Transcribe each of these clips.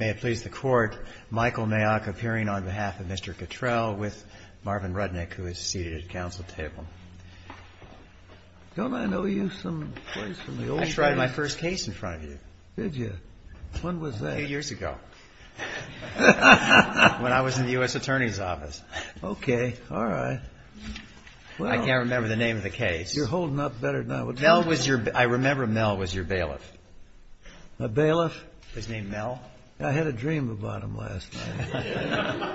May it please the Court, Michael Mayock appearing on behalf of Mr. Cottrell with Marvin Rudnick, who is seated at the Council table. Don't I know you some place from the old days? I tried my first case in front of you. Did you? When was that? A few years ago, when I was in the U.S. Attorney's Office. Okay, all right. I can't remember the name of the case. You're holding up better than I would like. I remember Mel was your bailiff. My bailiff? Was named Mel. I had a dream about him last night.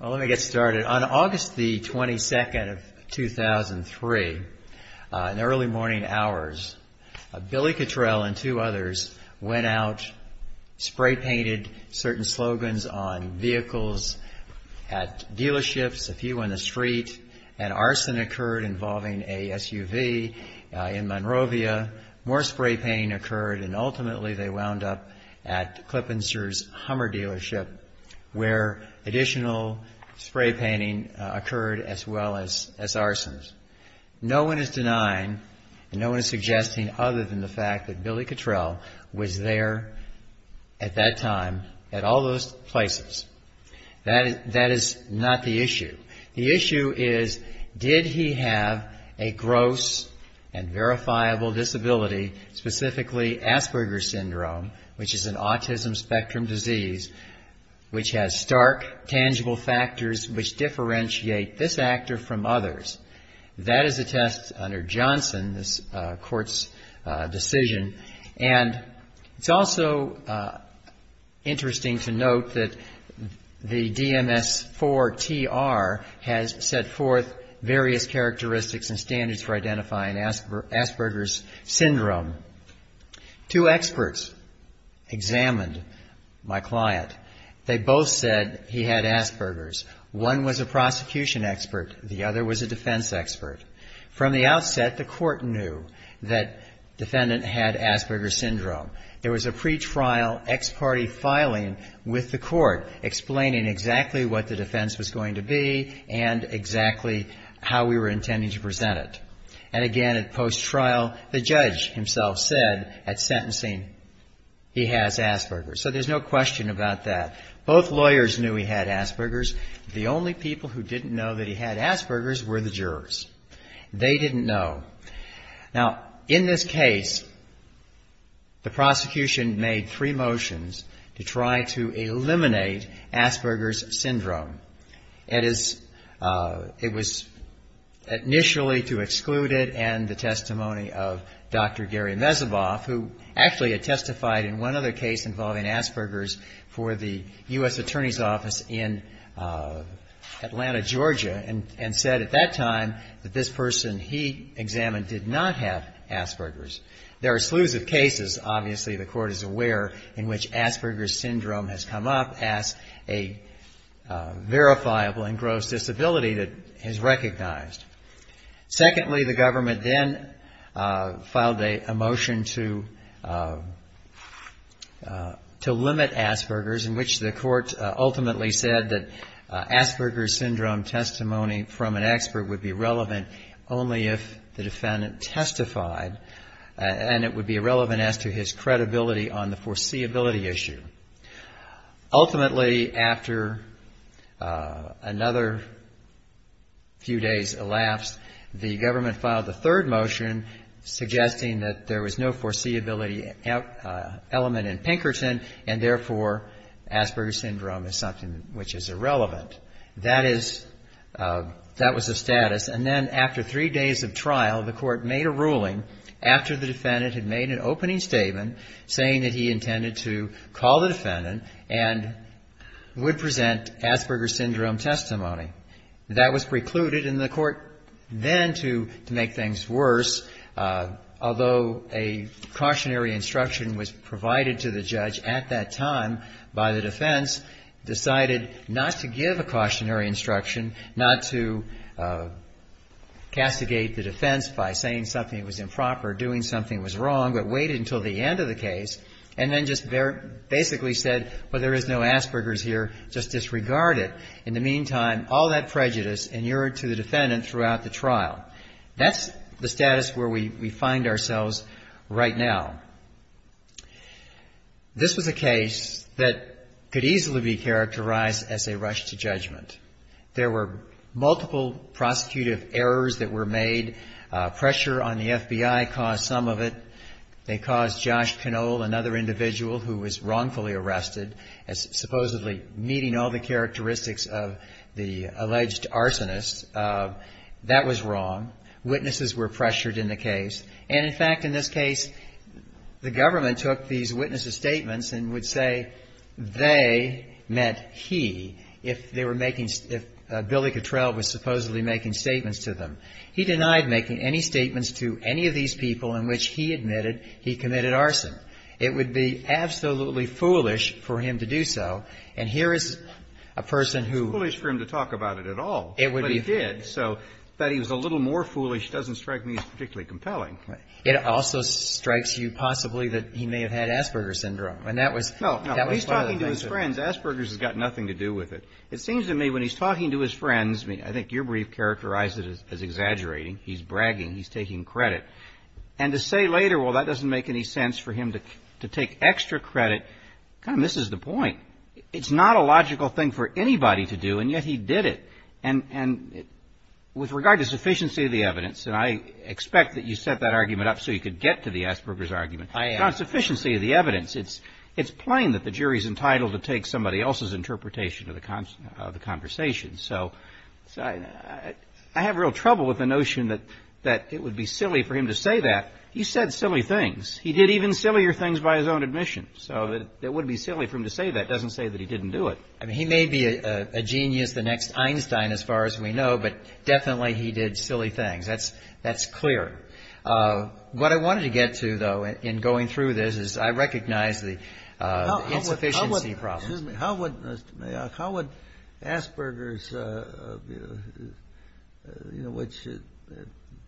Well, let me get started. On August the 22nd of 2003, in the early morning hours, Billy Cottrell and two others went out, spray painted certain slogans on vehicles at dealerships, a few on the street, and arson occurred involving a SUV in Monrovia. More spray painting occurred, and ultimately they wound up at Klippenster's Hummer dealership, where additional spray painting occurred as well as arsons. No one is denying and no one is suggesting other than the fact that Billy Cottrell was there at that time at all those places. That is not the issue. The issue is did he have a gross and verifiable disability, specifically Asperger's syndrome, which is an autism spectrum disease which has stark, tangible factors which differentiate this actor from others. That is a test under Johnson, this Court's decision. And it's also interesting to note that the DMS-IV-TR has set forth various characteristics and standards for identifying Asperger's syndrome. Two experts examined my client. They both said he had Asperger's. One was a prosecution expert. The other was a defense expert. From the outset, the Court knew that the defendant had Asperger's syndrome. There was a pretrial ex parte filing with the Court explaining exactly what the defense was going to be and exactly how we were intending to present it. And again, at post-trial, the judge himself said at sentencing, he has Asperger's. So there's no question about that. Both lawyers knew he had Asperger's. The only people who didn't know that he had Asperger's were the jurors. They didn't know. Now, in this case, the prosecution made three motions to try to eliminate Asperger's syndrome. It was initially to exclude it and the testimony of Dr. Gary Mezeboff, who actually had testified in one other case involving Asperger's for the U.S. Attorney's Office in Atlanta, Georgia, and said at that time that this person he examined did not have Asperger's. There are slews of cases, obviously, the Court is aware, in which Asperger's syndrome has come up as a verifiable and gross disability that is recognized. Secondly, the government then filed a motion to limit Asperger's, in which the court ultimately said that Asperger's syndrome testimony from an expert would be relevant only if the defendant testified, and it would be irrelevant as to his credibility on the foreseeability issue. Ultimately, after another few days elapsed, the government filed a third motion, suggesting that there was no foreseeability element in Pinkerton, and therefore Asperger's syndrome is something which is irrelevant. That was the status, and then after three days of trial, the court made a ruling, after the defendant had made an opening statement saying that he intended to call the defendant and would present Asperger's syndrome testimony. That was precluded, and the court then, to make things worse, although a cautionary instruction was provided to the judge at that time by the defense, decided not to give a cautionary instruction, not to castigate the defense by saying something that was improper, doing something that was wrong, but wait until the end of the case, and then just basically said, well, there is no Asperger's here, just disregard it. In the meantime, all that prejudice inured to the defendant throughout the trial. That's the status where we find ourselves right now. This was a case that could easily be characterized as a rush to judgment. There were multiple prosecutive errors that were made. Pressure on the FBI caused some of it. They caused Josh Canole, another individual who was wrongfully arrested, supposedly meeting all the characteristics of the alleged arsonist. That was wrong. Witnesses were pressured in the case, and in fact, in this case, the government took these witnesses' statements and would say they meant he, if they were making, if Billy Cottrell was supposedly making statements to them. He denied making any statements to any of these people in which he admitted he committed arson. It would be absolutely foolish for him to do so, and here is a person who ---- It also strikes you possibly that he may have had Asperger's syndrome, and that was part of the thing. Asperger's has got nothing to do with it. It seems to me when he's talking to his friends, I think your brief characterized it as exaggerating. He's bragging. He's taking credit. And to say later, well, that doesn't make any sense for him to take extra credit, this is the point. It's not a logical thing for anybody to do, and yet he did it. And with regard to sufficiency of the evidence, and I expect that you set that argument up so you could get to the Asperger's argument. On sufficiency of the evidence, it's plain that the jury's entitled to take somebody else's interpretation of the conversation. So I have real trouble with the notion that it would be silly for him to say that. He said silly things. He doesn't say that he didn't do it. I mean, he may be a genius the next Einstein, as far as we know, but definitely he did silly things. That's clear. What I wanted to get to, though, in going through this, is I recognize the insufficiency problems. How would Asperger's, which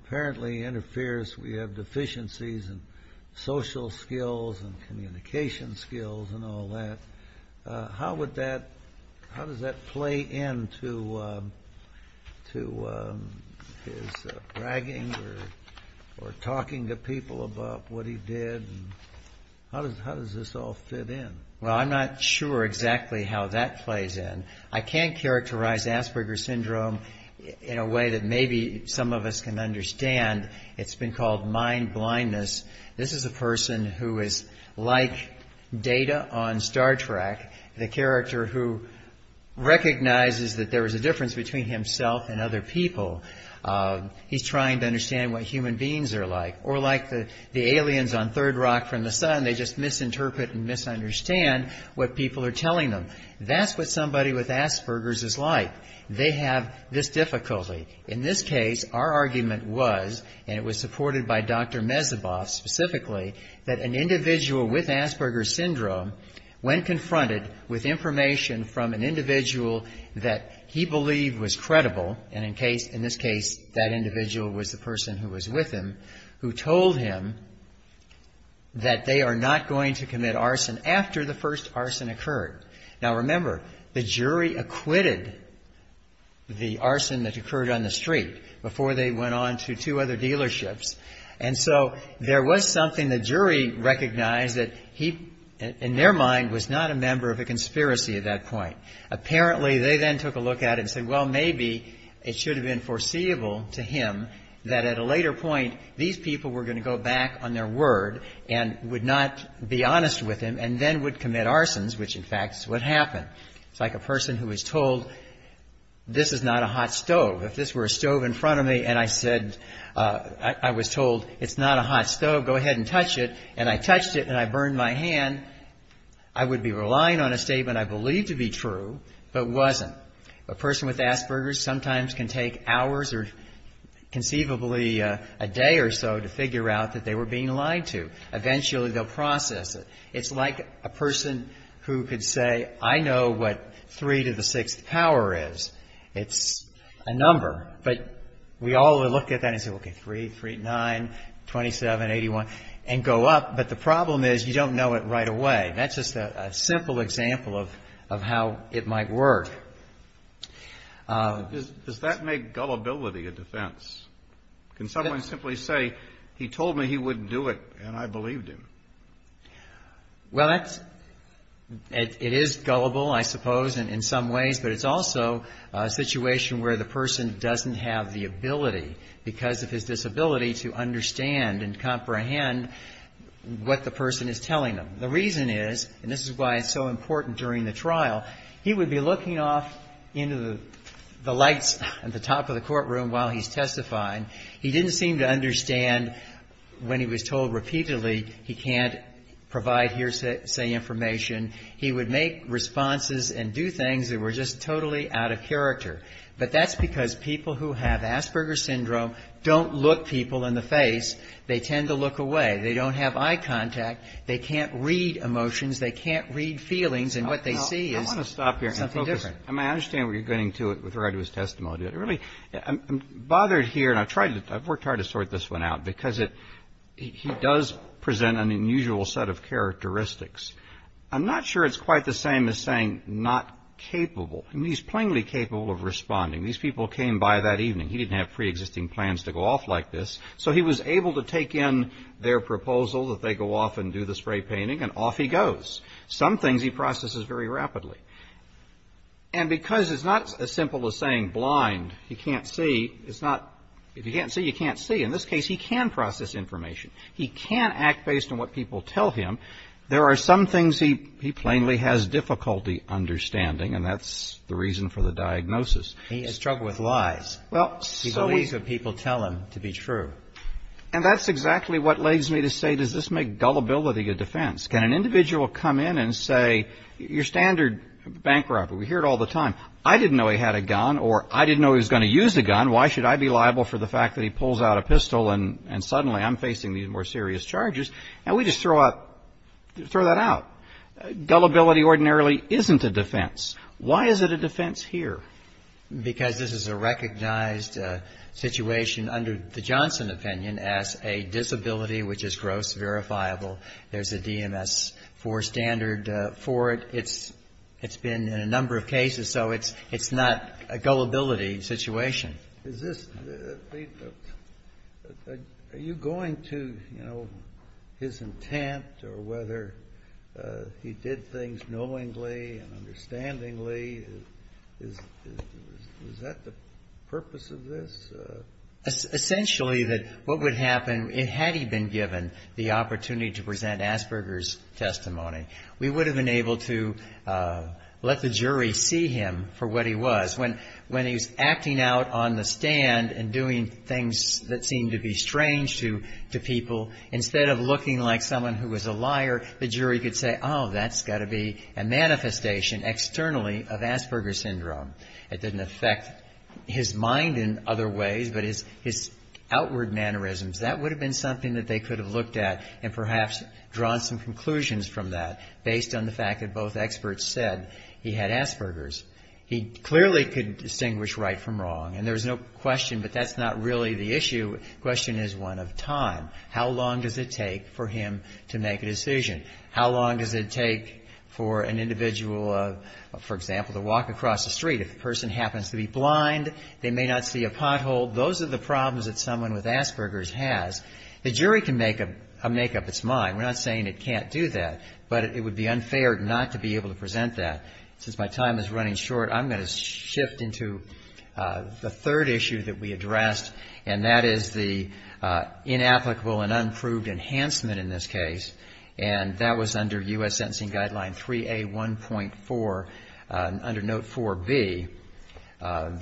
apparently interferes, we have deficiencies in social skills and communication skills and all that, how does that play into his bragging or talking to people about what he did? How does this all fit in? Well, I'm not sure exactly how that plays in. I can characterize Asperger's syndrome in a way that maybe some of us can understand. It's been called mind blindness. This is a person who is like Data on Star Trek, the character who recognizes that there is a difference between himself and other people. He's trying to understand what human beings are like, or like the aliens on Third Rock from the Sun. They just misinterpret and misunderstand what people are telling them. That's what somebody with Asperger's is like. And it was supported by Dr. Mezeboff, specifically, that an individual with Asperger's syndrome, when confronted with information from an individual that he believed was credible, and in this case, that individual was the person who was with him, who told him that they are not going to commit arson after the first arson occurred. Now, remember, the jury acquitted the arson that occurred on the street before they went on to two other defendants. And so there was something the jury recognized that he, in their mind, was not a member of a conspiracy at that point. Apparently, they then took a look at it and said, well, maybe it should have been foreseeable to him that at a later point, these people were going to go back on their word and would not be honest with him and then would commit arsons, which in fact is what happened. It's like a person who was told, this is not a hot stove. If this were a stove in front of me and I said, I was told, it's not a hot stove, go ahead and touch it, and I touched it and I burned my hand, I would be relying on a statement I believed to be true, but wasn't. A person with Asperger's sometimes can take hours or conceivably a day or so to figure out that they were being lied to. Eventually, they'll process it. It's like a person who could say, I know what three to the sixth power is. It's a number, but we all look at that and say, okay, 3, 3, 9, 27, 81, and go up, but the problem is you don't know it right away. That's just a simple example of how it might work. Kennedy. Does that make gullibility a defense? Can someone simply say, he told me he wouldn't do it and I believed him? Well, that's, it is gullible, I suppose, in some ways, but it's also a situation where the person doesn't have the ability because of his disability to understand and comprehend what the person is telling them. The reason is, and this is why it's so important during the trial, he would be looking off into the lights at the top of the courtroom while he's testifying. He didn't seem to understand when he was told repeatedly he can't do it. Provide hearsay information. He would make responses and do things that were just totally out of character. But that's because people who have Asperger's syndrome don't look people in the face. They tend to look away. They don't have eye contact. They can't read emotions. They can't read feelings, and what they see is something different. I want to stop here and focus. I mean, I understand where you're getting to with regard to his testimony. I'm bothered here, and I've worked hard to sort this one out, because he does present an unusual set of characteristics. I'm not sure it's quite the same as saying not capable. I mean, he's plainly capable of responding. These people came by that evening. He didn't have preexisting plans to go off like this, so he was able to take in their proposal that they go off and do the spray painting, and off he goes. Some things he processes very rapidly. And because it's not as simple as saying blind, he can't see, it's not if you can't see, you can't see. In this case, he can process information. He can act based on what people tell him. There are some things he plainly has difficulty understanding, and that's the reason for the diagnosis. He has struggled with lies. He believes what people tell him to be true. And that's exactly what leads me to say, does this make gullibility a defense? Can an individual come in and say, your standard bank robber, we hear it all the time, I didn't know he had a gun, or I didn't know he was going to use a gun, why should I be liable for the fact that he pulls out a pistol and suddenly I'm facing these more serious charges, and we just throw that out. Gullibility ordinarily isn't a defense. Why is it a defense here? Because this is a recognized situation under the Johnson opinion as a disability which is gross, verifiable. There's a DMS-IV standard for it. It's been in a number of cases, so it's not a gullibility situation. Is this, are you going to, you know, his intent or whether he did things knowingly and understandingly, is that the purpose of this? Essentially that what would happen, had he been given the opportunity to present Asperger's testimony, we would have been able to let the jury see him for what he was. When he was acting out on the stand and doing things that seemed to be strange to people, instead of looking like someone who was a liar, the jury could say, oh, that's got to be a manifestation externally of Asperger's syndrome. It didn't affect his mind in other ways, but his outward mannerisms, that would have been something that they could have looked at and perhaps drawn some conclusions from that based on the fact that both experts said he had Asperger's. He clearly could distinguish right from wrong, and there's no question, but that's not really the issue. The question is one of time. How long does it take for him to make a decision? How long does it take for an individual, for example, to walk across the street? If the person happens to be blind, they may not see a pothole, those are the problems that someone with Asperger's has. The jury can make up its mind. We're not saying it can't do that, but it would be unfair not to be able to present that. Since my time is running short, I'm going to shift into the third issue that we addressed, and that is the inapplicable and unproved enhancement in this case, and that was under U.S. Constitution. The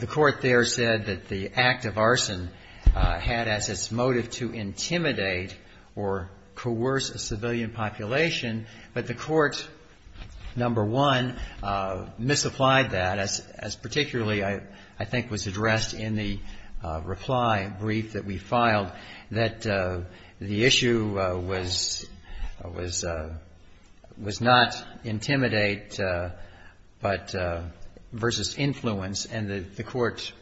Court there said that the act of arson had as its motive to intimidate or coerce a civilian population, but the Court, number one, misapplied that, as particularly I think was addressed in the reply brief that we filed, that the issue was not intimidate but versus influence, and the Court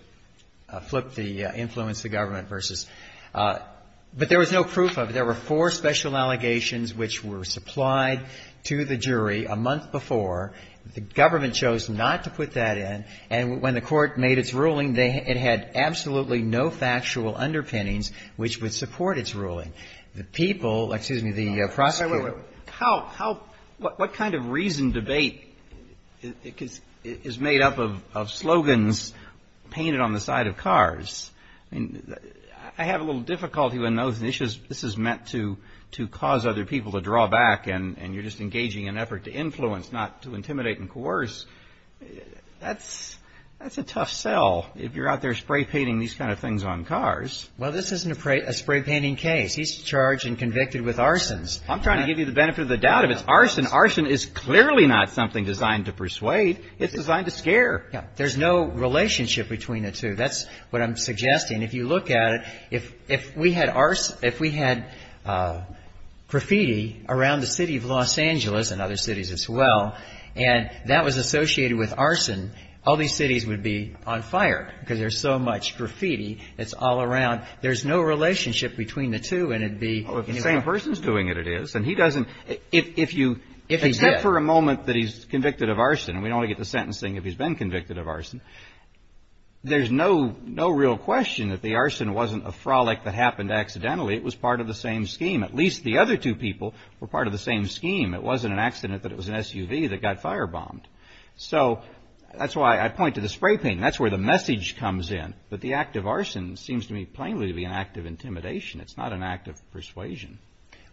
flipped the influence to government versus. But there was no proof of it. There were four special allegations which were supplied to the jury a month before. The government chose not to put that in, and when the Court made its ruling, it had absolutely no factual underpinnings which would support its ruling. The people, excuse me, the prosecutor. Wait, wait, wait. What kind of reason debate is made up of slogans painted on the side of cars? I mean, I have a little difficulty when those issues, this is meant to cause other people to draw back, and you're just engaging in an effort to influence, not to intimidate and coerce. That's a tough sell if you're out there spray painting these kind of things on cars. Well, this isn't a spray painting case. He's charged and convicted with arsons. I'm trying to give you the benefit of the doubt. If it's arson, arson is clearly not something designed to persuade. It's designed to scare. There's no relationship between the two. That's what I'm suggesting. If you look at it, if we had graffiti around the city of Los Angeles, and other cities as well, and that was associated with arson, all these cities would be on fire because there's so much graffiti that's all around. There's no relationship between the two, and it'd be... Well, if the same person's doing it, it is. And he doesn't, if you... If he's dead. Except for a moment that he's convicted of arson, and we'd only get the sentencing if he's been convicted of arson, there's no real question that the arson wasn't a frolic that happened accidentally. It was part of the same scheme. At least the other two people were part of the same scheme. It wasn't an accident that it was an SUV that got fire bombed. So that's why I point to the spray painting. That's where the message comes in. But the act of arson seems to me plainly to be an act of intimidation. It's not an act of persuasion.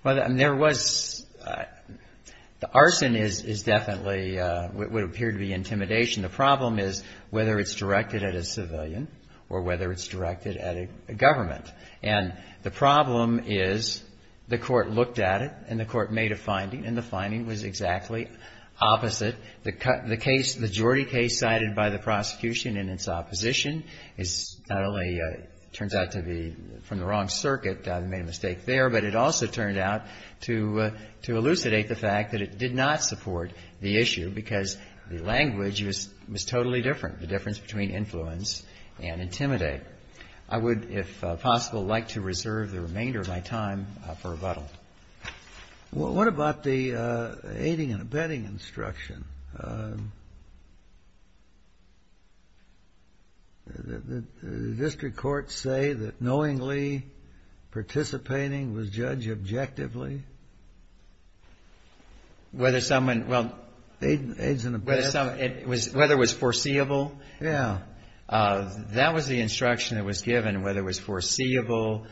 Well, there was... The arson is definitely what would appear to be intimidation. The problem is whether it's directed at a civilian, or whether it's directed at a government. And the problem is the court looked at it, and the court made a finding, and the finding was exactly opposite. The case, the Jordy case cited by the prosecution and its opposition is not only... Turns out to be from the wrong circuit. They made a mistake there, but it also turned out to elucidate the fact that it did not support the issue, because the language was totally different, the difference between influence and intimidate. I would, if possible, like to reserve the remainder of my time for rebuttal. What about the aiding and abetting instruction? Did the district court say that knowingly participating was judged objectively? Whether someone... Aiding and abetting. Whether it was foreseeable. Yeah. That was the instruction that was given, whether it was foreseeable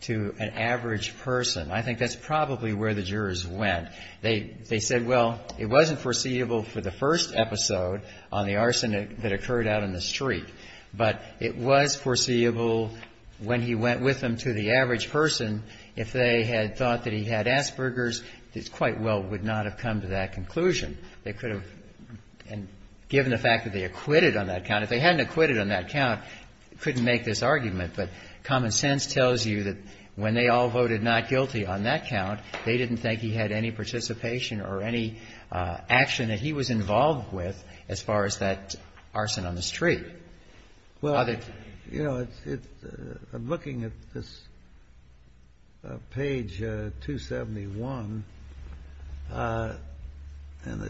to an average person. I mean, it wasn't foreseeable for the first episode on the arson that occurred out on the street. But it was foreseeable when he went with them to the average person, if they had thought that he had Asperger's, it quite well would not have come to that conclusion. They could have... And given the fact that they acquitted on that count, if they hadn't acquitted on that count, they couldn't make this argument. But common sense tells you that when they all voted not guilty on that count, they didn't think he had any participation or any action that he was involved with as far as that arson on the street. Well, you know, looking at this page 271 in the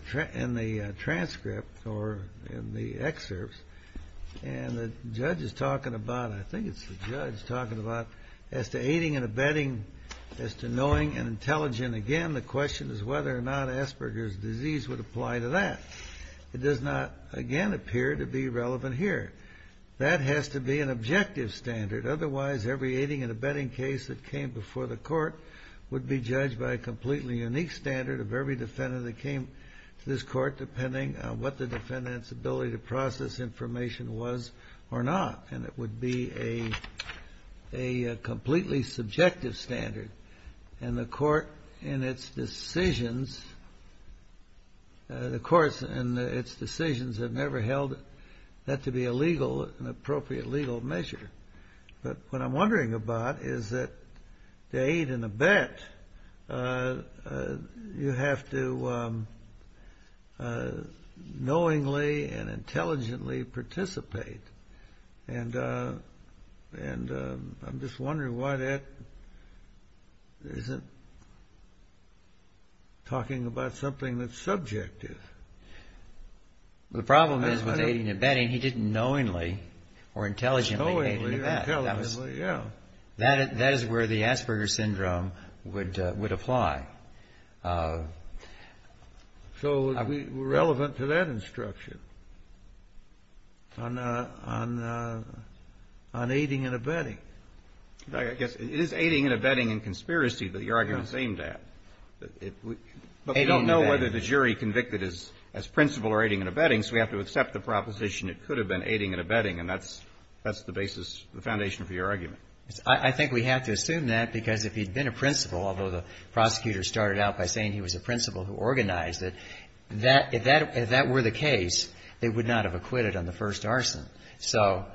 transcript or in the excerpts, and the judge is talking about, I think it's the judge talking about, as to aiding and abetting, as to knowing and intelligent. Again, the question is whether or not Asperger's disease would apply to that. It does not, again, appear to be relevant here. That has to be an objective standard. Otherwise, every aiding and abetting case that came before the court would be judged by a completely unique standard of every defendant that came to this court, depending on what the defendant's ability to process information was or not. And it would be a completely subjective standard. And the court, in its decisions, the courts, in its decisions, have never held that to be a legal, an appropriate legal measure. But what I'm wondering about is that to aid and abet, you have to knowingly and intelligently participate. And I'm just wondering why that isn't talking about something that's subjective. The problem is with aiding and abetting, he didn't knowingly or intelligently aid and abet. That is where the Asperger's syndrome would apply. So we're relevant to that instruction on aiding and abetting. I guess it is aiding and abetting and conspiracy that your argument's aimed at. But we don't know whether the jury convicted as principal or aiding and abetting, so we have to accept the proposition it could have been aiding and abetting, and that's the basis, the foundation for your argument. I think we have to assume that because if he'd been a principal, although the prosecutor started out by saying he was a principal who organized it, if that were the case, they would not have acquitted on the first arson. So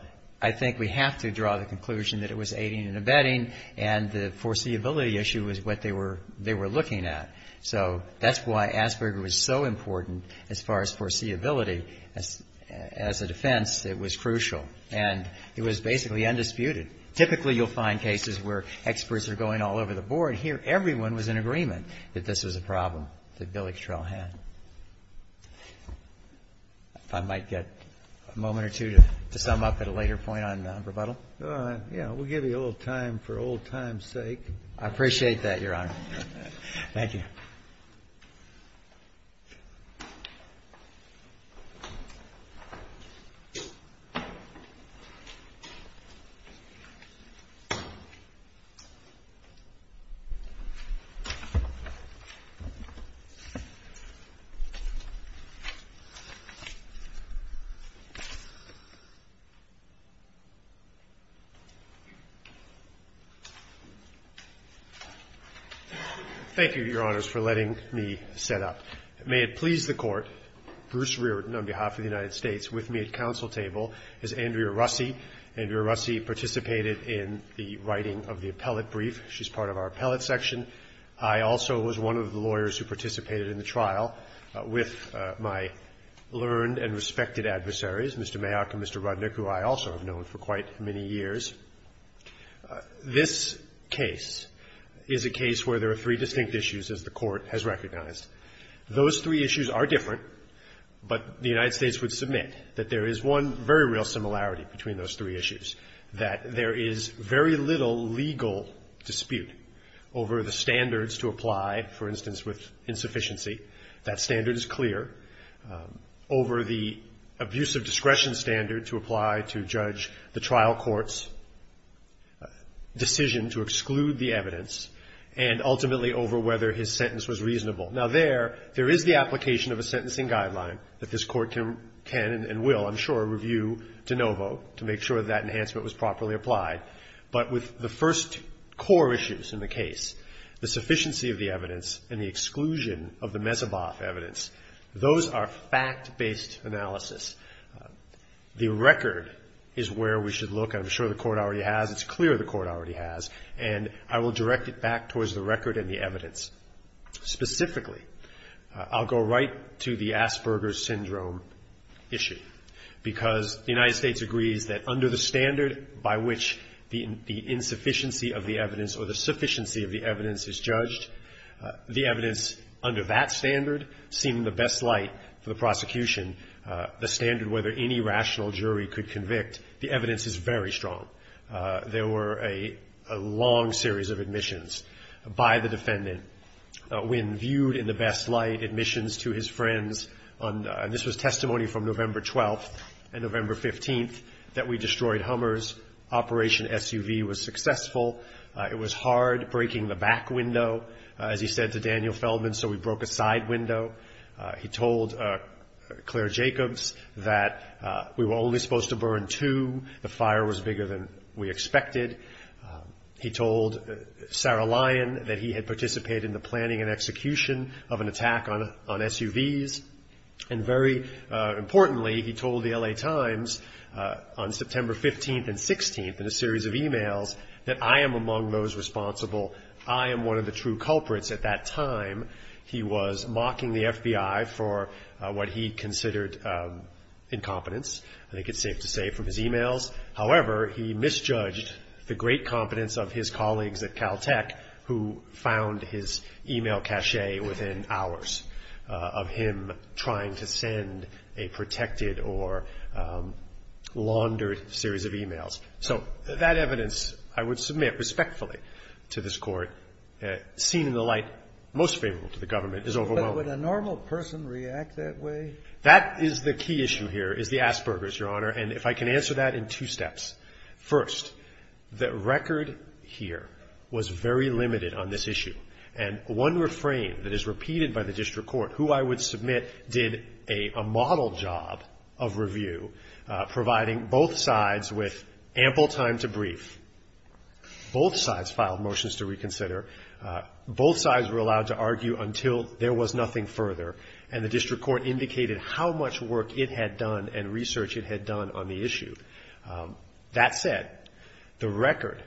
I think we have to draw the conclusion that it was aiding and abetting and the foreseeability issue was what they were looking at. So that's why Asperger was so important as far as foreseeability. As a defense, it was crucial. And it was basically undisputed. Typically, you'll find cases where experts are going all over the board. Here, everyone was in agreement that this was a problem that Billy Strell had. If I might get a moment or two to sum up at a later point on rebuttal. Yeah, we'll give you a little time for old times' sake. I appreciate that, Your Honor. Thank you, Your Honors, for letting me set up. May it please the Court, Bruce Reardon on behalf of the United States with me at council table is Andrea Russi. Andrea Russi participated in the writing of the appellate brief. She's part of our appellate section. I also was one of the lawyers who participated in the trial with my learned and respected adversaries, Mr. Mayock and Mr. Rudnick, who I also have known for quite many years. This case is a case where there are three distinct issues, as the Court has recognized. Those three issues are different, but the United States would submit that there is one very real similarity between those three issues, that there is very little legal dispute over the standards to apply, for instance, with insufficiency. That standard is clear. Over the abuse of discretion standard to apply to judge the trial court's decision to exclude the evidence, and ultimately over whether his sentence was reasonable. Now, there, there is the application of a sentencing guideline that this Court can and will, I'm sure, review de novo to make sure that enhancement was properly applied. But with the first core issues in the case, the sufficiency of the evidence and the exclusion of the Messeboff evidence, those are fact-based analysis. The record is where we should look. I'm sure the Court already has. It's clear the Court already has. And I will direct it back towards the record and the evidence. Specifically, I'll go right to the Asperger's Syndrome issue, because the United States agrees that under the standard by which the insufficiency of the evidence or the sufficiency of the evidence is judged, the evidence under that standard seemed the best light for the prosecution, the standard whether any rational jury could convict. The evidence is very strong. There were a long series of admissions by the defendant. When viewed in the best light, admissions to his friends, and this was testimony from November 12th and November 15th, that we destroyed Hummer's Operation SUV was successful. It was hard breaking the back window, as he said to Daniel Feldman, so we broke a side window. He told Claire Jacobs that we were only supposed to burn two. The fire was bigger than we expected. He told Sarah Lyon that he had participated in the planning and execution of an attack on SUVs. And very importantly, he told the L.A. Times on September 15th and 16th in a series of e-mails that I am among those responsible. I am one of the true culprits. At that time, he was mocking the FBI for what he considered incompetence. I think it's safe to say from his e-mails. However, he misjudged the great competence of his colleagues at Caltech who found his e-mail cachet within hours of him trying to send a protected or laundered series of e-mails. So that evidence, I would submit respectfully to this Court, seen in the light most favorable to the government, is overwhelming. But would a normal person react that way? That is the key issue here, is the Asperger's, Your Honor. And if I can answer that in two steps. First, the record here was very limited on this issue. And one refrain that is repeated by the district court, who I would submit did a model job of review, providing both sides with ample time to brief. Both sides filed motions to reconsider. Both sides were allowed to argue until there was nothing further. And the district court indicated how much work it had done and research it had done on the issue. That said, the record,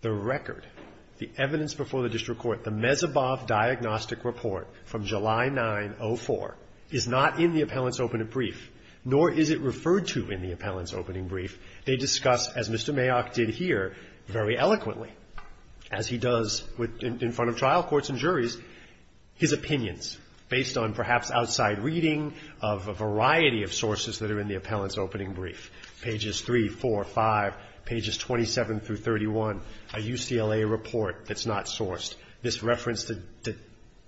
the record, the evidence before the district court, the Mezebov Diagnostic Report from July 9, 04 is not in the appellant's opening brief, nor is it referred to in the appellant's opening brief. They discuss, as Mr. Mayock did here, very eloquently, as he does in front of trial courts and juries, his opinions based on perhaps outside reading of a variety of sources that are in the appellant's opening brief. Pages 3, 4, 5, pages 27 through 31, a UCLA report that's not sourced. This referenced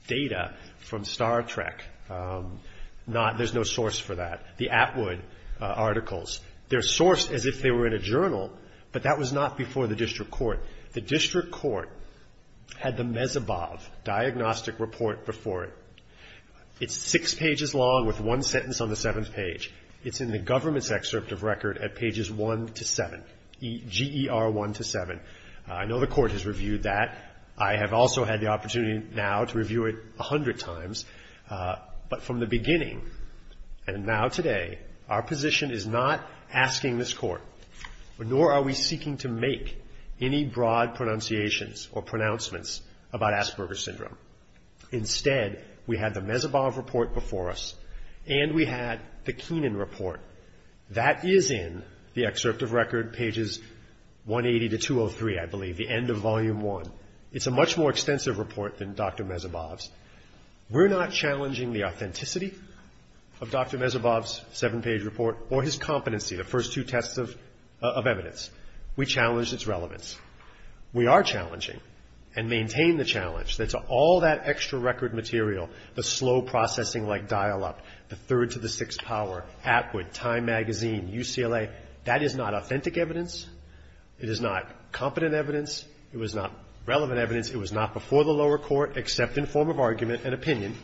data from Star Trek. There's no source for that. The Atwood articles, they're sourced as if they were in a journal, but that was not before the district court. The district court had the Mezebov Diagnostic Report before it. It's six pages long with one sentence on the seventh page. It's in the government's excerpt of record at pages 1 to 7, GER 1 to 7. I know the court has reviewed that. I have also had the opportunity now to review it a hundred times. But from the beginning and now today, our position is not asking this court, nor are we seeking to make any broad pronunciations or pronouncements about Asperger's syndrome. Instead, we had the Mezebov report before us, and we had the Keenan report. That is in the excerpt of record, pages 180 to 203, I believe, the end of Volume 1. It's a much more extensive report than Dr. Mezebov's. We're not challenging the authenticity of Dr. Mezebov's seven-page report or his competency, the first two tests of evidence. We challenge its relevance. We are challenging and maintain the challenge that all that extra record material, the slow processing like dial-up, the third to the sixth power, Atwood, Time magazine, UCLA, that is not authentic evidence. It is not competent evidence. It was not relevant evidence. It was not before the lower court except in form of argument and opinion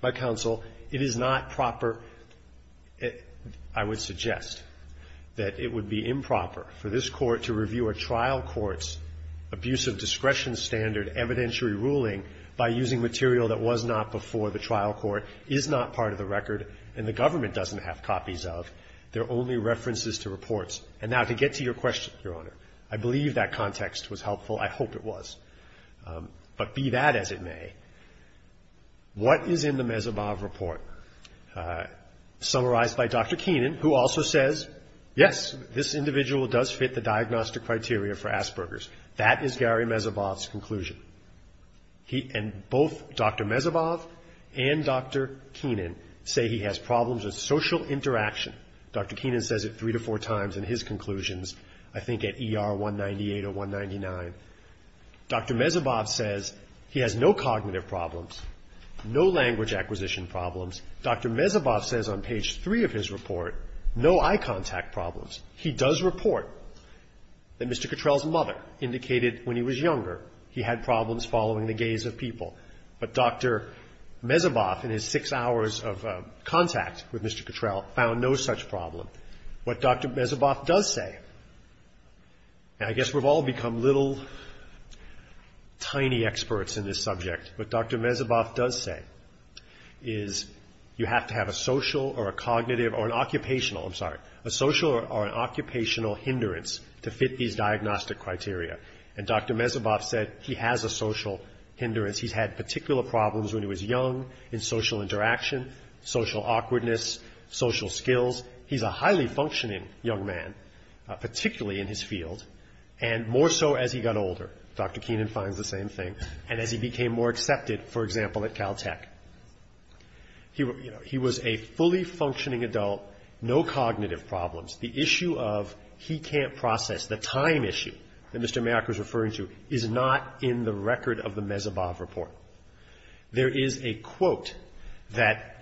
by counsel. It is not proper, I would suggest, that it would be improper for this court to review a trial court's abuse of discretion standard evidentiary ruling by using material that was not before the trial court, is not part of the record, and the government doesn't have copies of, they're only references to reports. And now to get to your question, Your Honor, I believe that context was helpful. I hope it was. But be that as it may, what is in the Mezebov report? Summarized by Dr. Keenan, who also says, yes, this individual does fit the diagnostic criteria for Asperger's. That is Gary Mezebov's conclusion. And both Dr. Mezebov and Dr. Keenan say he has problems with social interaction. Dr. Keenan says it three to four times in his conclusions, I think at ER 198 or 199. Dr. Mezebov says he has no cognitive problems, no language acquisition problems. Dr. Mezebov says on page three of his report no eye contact problems. He does report that Mr. Cottrell's mother indicated when he was younger he had problems following the gaze of people. But Dr. Mezebov, in his six hours of contact with Mr. Cottrell, found no such problem. What Dr. Mezebov does say, and I guess we've all become little tiny experts in this subject, what Dr. Mezebov does say is you have to have a social or a cognitive or an occupational, I'm sorry, a social or an occupational hindrance to fit these diagnostic criteria. And Dr. Mezebov said he has a social hindrance. He's had particular problems when he was young in social interaction, social awkwardness, social skills. He's a highly functioning young man, particularly in his field, and more so as he got older. Dr. Keenan finds the same thing. And as he became more accepted, for example, at Caltech. He was a fully functioning adult, no cognitive problems. The issue of he can't process, the time issue that Mr. Mayock was referring to, is not in the record of the Mezebov report. There is a quote that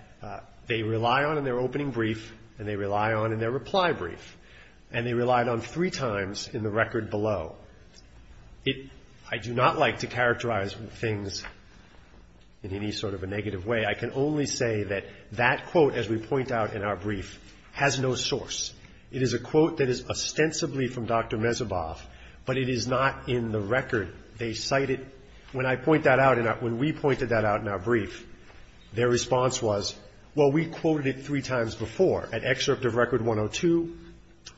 they rely on in their opening brief and they rely on in their reply brief, and they relied on three times in the record below. I do not like to characterize things in any sort of a negative way. I can only say that that quote, as we point out in our brief, has no source. It is a quote that is ostensibly from Dr. Mezebov, but it is not in the record. They cite it, when I point that out, when we pointed that out in our brief, their response was, well, we quoted it three times before at excerpt of record 102,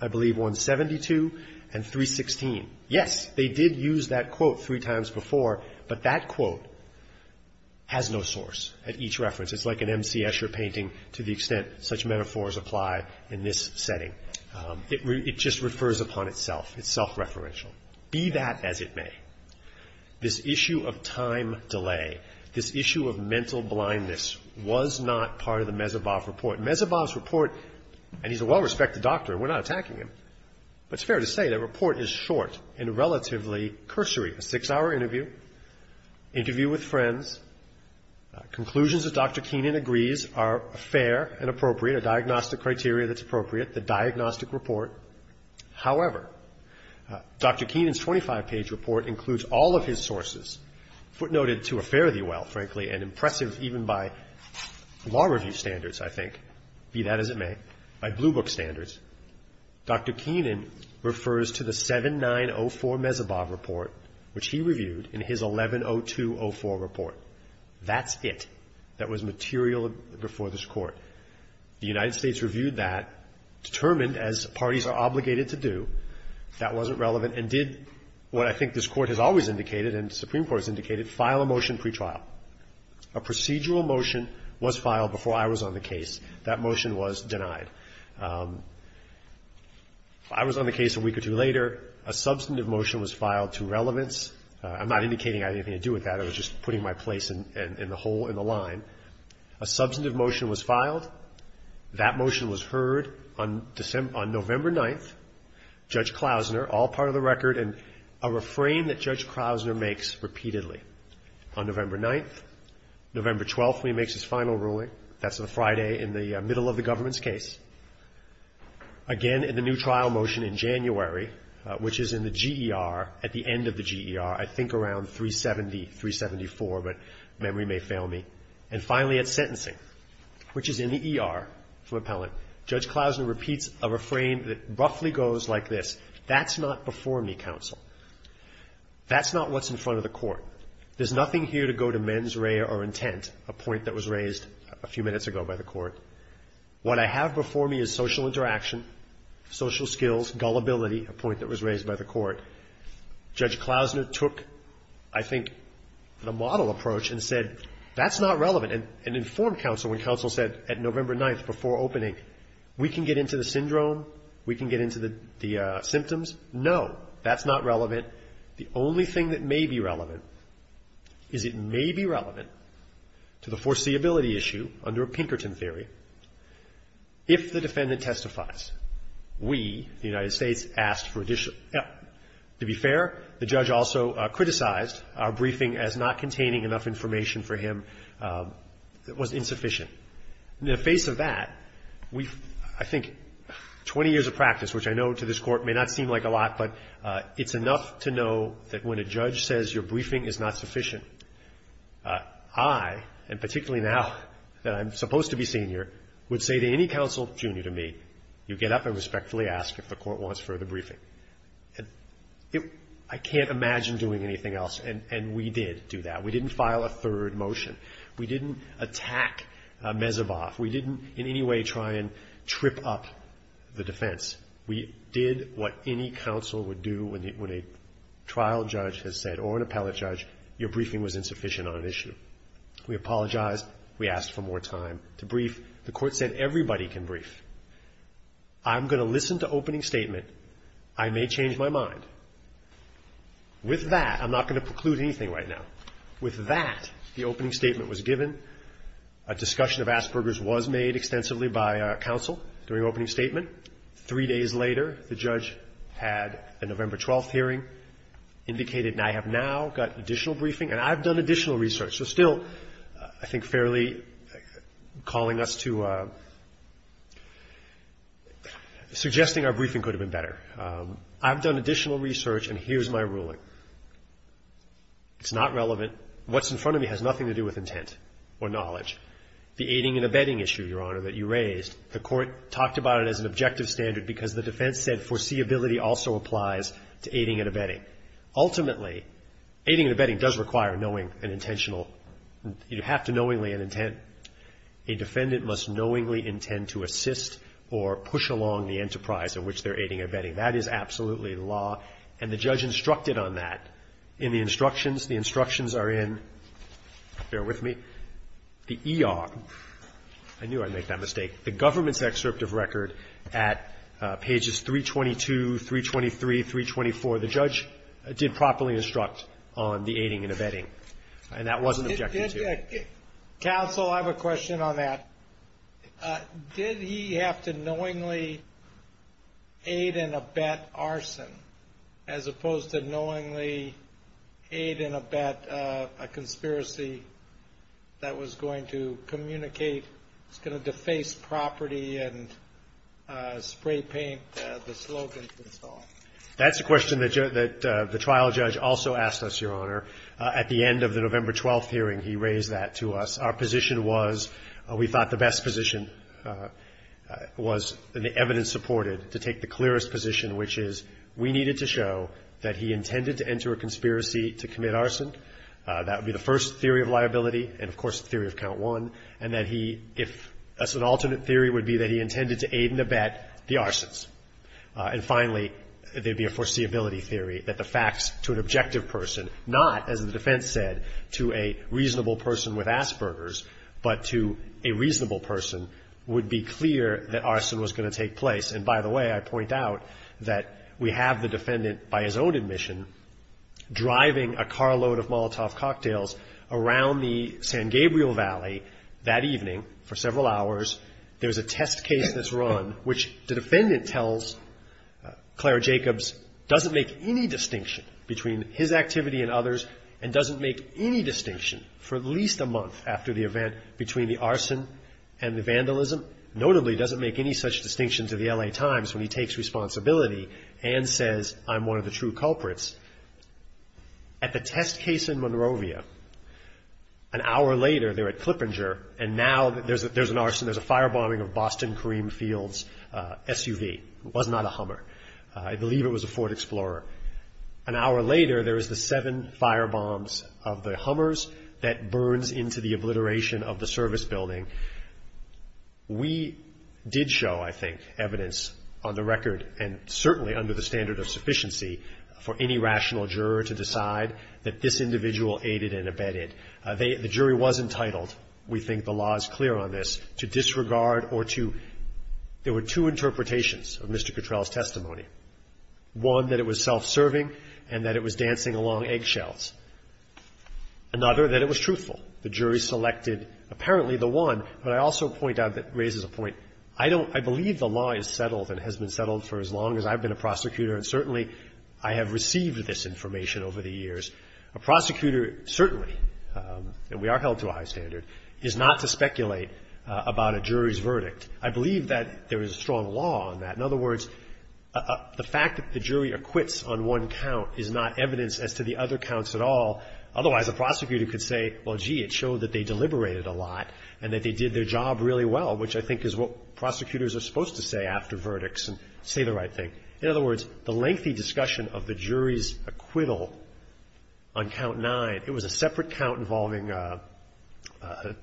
I believe 172, and 316. Yes, they did use that quote three times before, but that quote has no source at each reference. It's like an M.C. Escher painting to the extent such metaphors apply in this setting. It just refers upon itself. It's self-referential. Be that as it may, this issue of time delay, this issue of mental blindness, was not part of the Mezebov report. Mezebov's report, and he's a well-respected doctor, we're not attacking him, but it's fair to say that report is short and relatively cursory. A six-hour interview, interview with friends, conclusions that Dr. Keenan agrees are fair and appropriate, a diagnostic criteria that's appropriate, the diagnostic report. However, Dr. Keenan's 25-page report includes all of his sources, footnoted to a fare-thee-well, frankly, and impressive even by law review standards, I think, be that as it may, by Blue Book standards. Dr. Keenan refers to the 7904 Mezebov report, which he reviewed in his 110204 report. That's it that was material before this Court. The United States reviewed that, determined, as parties are obligated to do, that wasn't relevant, and did what I think this Court has always indicated and the Supreme Court has indicated, file a motion pretrial. A procedural motion was filed before I was on the case. That motion was denied. I was on the case a week or two later. A substantive motion was filed to relevance. I'm not indicating I had anything to do with that. I was just putting my place in the hole in the line. A substantive motion was filed. That motion was heard on November 9th. Judge Klausner, all part of the record, and a refrain that Judge Klausner makes repeatedly. On November 9th, November 12th, when he makes his final ruling, that's on a Friday in the middle of the government's case. Again, in the new trial motion in January, which is in the GER, at the end of the GER, I think around 370, 374, but memory may fail me. And finally, at sentencing, which is in the ER for appellate, Judge Klausner repeats a refrain that roughly goes like this, That's not before me, counsel. That's not what's in front of the Court. There's nothing here to go to mens rea or intent, a point that was raised a few minutes ago by the Court. What I have before me is social interaction, social skills, gullibility, a point that was raised by the Court. Judge Klausner took, I think, the model approach and said, that's not relevant, and informed counsel when counsel said at November 9th before opening, We can get into the syndrome. We can get into the symptoms. No, that's not relevant. The only thing that may be relevant is it may be relevant to the foreseeability issue under Pinkerton theory if the defendant testifies. We, the United States, asked for additional help. To be fair, the judge also criticized our briefing as not containing enough information for him that was insufficient. In the face of that, we've, I think, 20 years of practice, which I know to this Court may not seem like a lot, but it's enough to know that when a judge says your briefing is not sufficient, I, and particularly now that I'm supposed to be senior, would say to any counsel junior to me, You get up and respectfully ask if the Court wants further briefing. I can't imagine doing anything else, and we did do that. We didn't file a third motion. We didn't attack Mezevoff. We didn't in any way try and trip up the defense. We did what any counsel would do when a trial judge has said, or an appellate judge, your briefing was insufficient on an issue. We apologized. We asked for more time to brief. The Court said everybody can brief. I'm going to listen to opening statement. I may change my mind. With that, I'm not going to preclude anything right now. With that, the opening statement was given. A discussion of Asperger's was made extensively by counsel during opening statement. Three days later, the judge had a November 12th hearing, indicated I have now got additional briefing, and I've done additional research. So still, I think, fairly calling us to – suggesting our briefing could have been better. I've done additional research, and here's my ruling. It's not relevant. What's in front of me has nothing to do with intent or knowledge. The aiding and abetting issue, Your Honor, that you raised, the Court talked about it as an objective standard because the defense said foreseeability also applies to aiding and abetting. Ultimately, aiding and abetting does require knowing an intentional – you have to knowingly have an intent. A defendant must knowingly intend to assist or push along the enterprise in which they're aiding and abetting. That is absolutely law, and the judge instructed on that in the instructions. The instructions are in – bear with me – the E.R. I knew I'd make that mistake. The government's excerpt of record at pages 322, 323, 324, the judge did properly instruct on the aiding and abetting, and that was an objective, too. Counsel, I have a question on that. Did he have to knowingly aid and abet arson as opposed to knowingly aid and abet a property and spray paint the slogan installed? That's a question that the trial judge also asked us, Your Honor. At the end of the November 12th hearing, he raised that to us. Our position was – we thought the best position was, and the evidence supported, to take the clearest position, which is we needed to show that he intended to enter a conspiracy to commit arson. That would be the first theory of liability and, of course, the theory of count one, and that he – if – an alternate theory would be that he intended to aid and abet the arsons. And, finally, there'd be a foreseeability theory that the facts to an objective person, not, as the defense said, to a reasonable person with Asperger's, but to a reasonable person would be clear that arson was going to take place. And, by the way, I point out that we have the defendant, by his own admission, driving a carload of Molotov cocktails around the San Gabriel Valley that evening for several hours. There's a test case that's run, which the defendant tells Claire Jacobs doesn't make any distinction between his activity and others and doesn't make any distinction, for at least a month after the event, between the arson and the vandalism. Notably, doesn't make any such distinction to the L.A. Times when he takes responsibility and says, I'm one of the true culprits. At the test case in Monrovia, an hour later, they're at Clippinger, and now there's an arson, there's a firebombing of Boston Kareem Field's SUV. It was not a Hummer. I believe it was a Ford Explorer. An hour later, there is the seven firebombs of the Hummers that burns into the obliteration of the service building. We did show, I think, evidence on the record and certainly under the standard of sufficiency for any rational juror to decide that this individual aided and abetted. The jury was entitled, we think the law is clear on this, to disregard or to – there were two interpretations of Mr. Cottrell's testimony. One, that it was self-serving and that it was dancing along eggshells. Another, that it was truthful. The jury selected apparently the one, but I also point out that it raises a point. I don't – I believe the law is settled and has been settled for as long as I've been a prosecutor, and certainly I have received this information over the years. A prosecutor certainly – and we are held to a high standard – is not to speculate about a jury's verdict. I believe that there is a strong law on that. In other words, the fact that the jury acquits on one count is not evidence as to the other counts at all. Otherwise, a prosecutor could say, well, gee, it showed that they deliberated a lot and that they did their job really well, which I think is what prosecutors are supposed to say after verdicts and say the right thing. In other words, the lengthy discussion of the jury's acquittal on count nine, it was a separate count involving a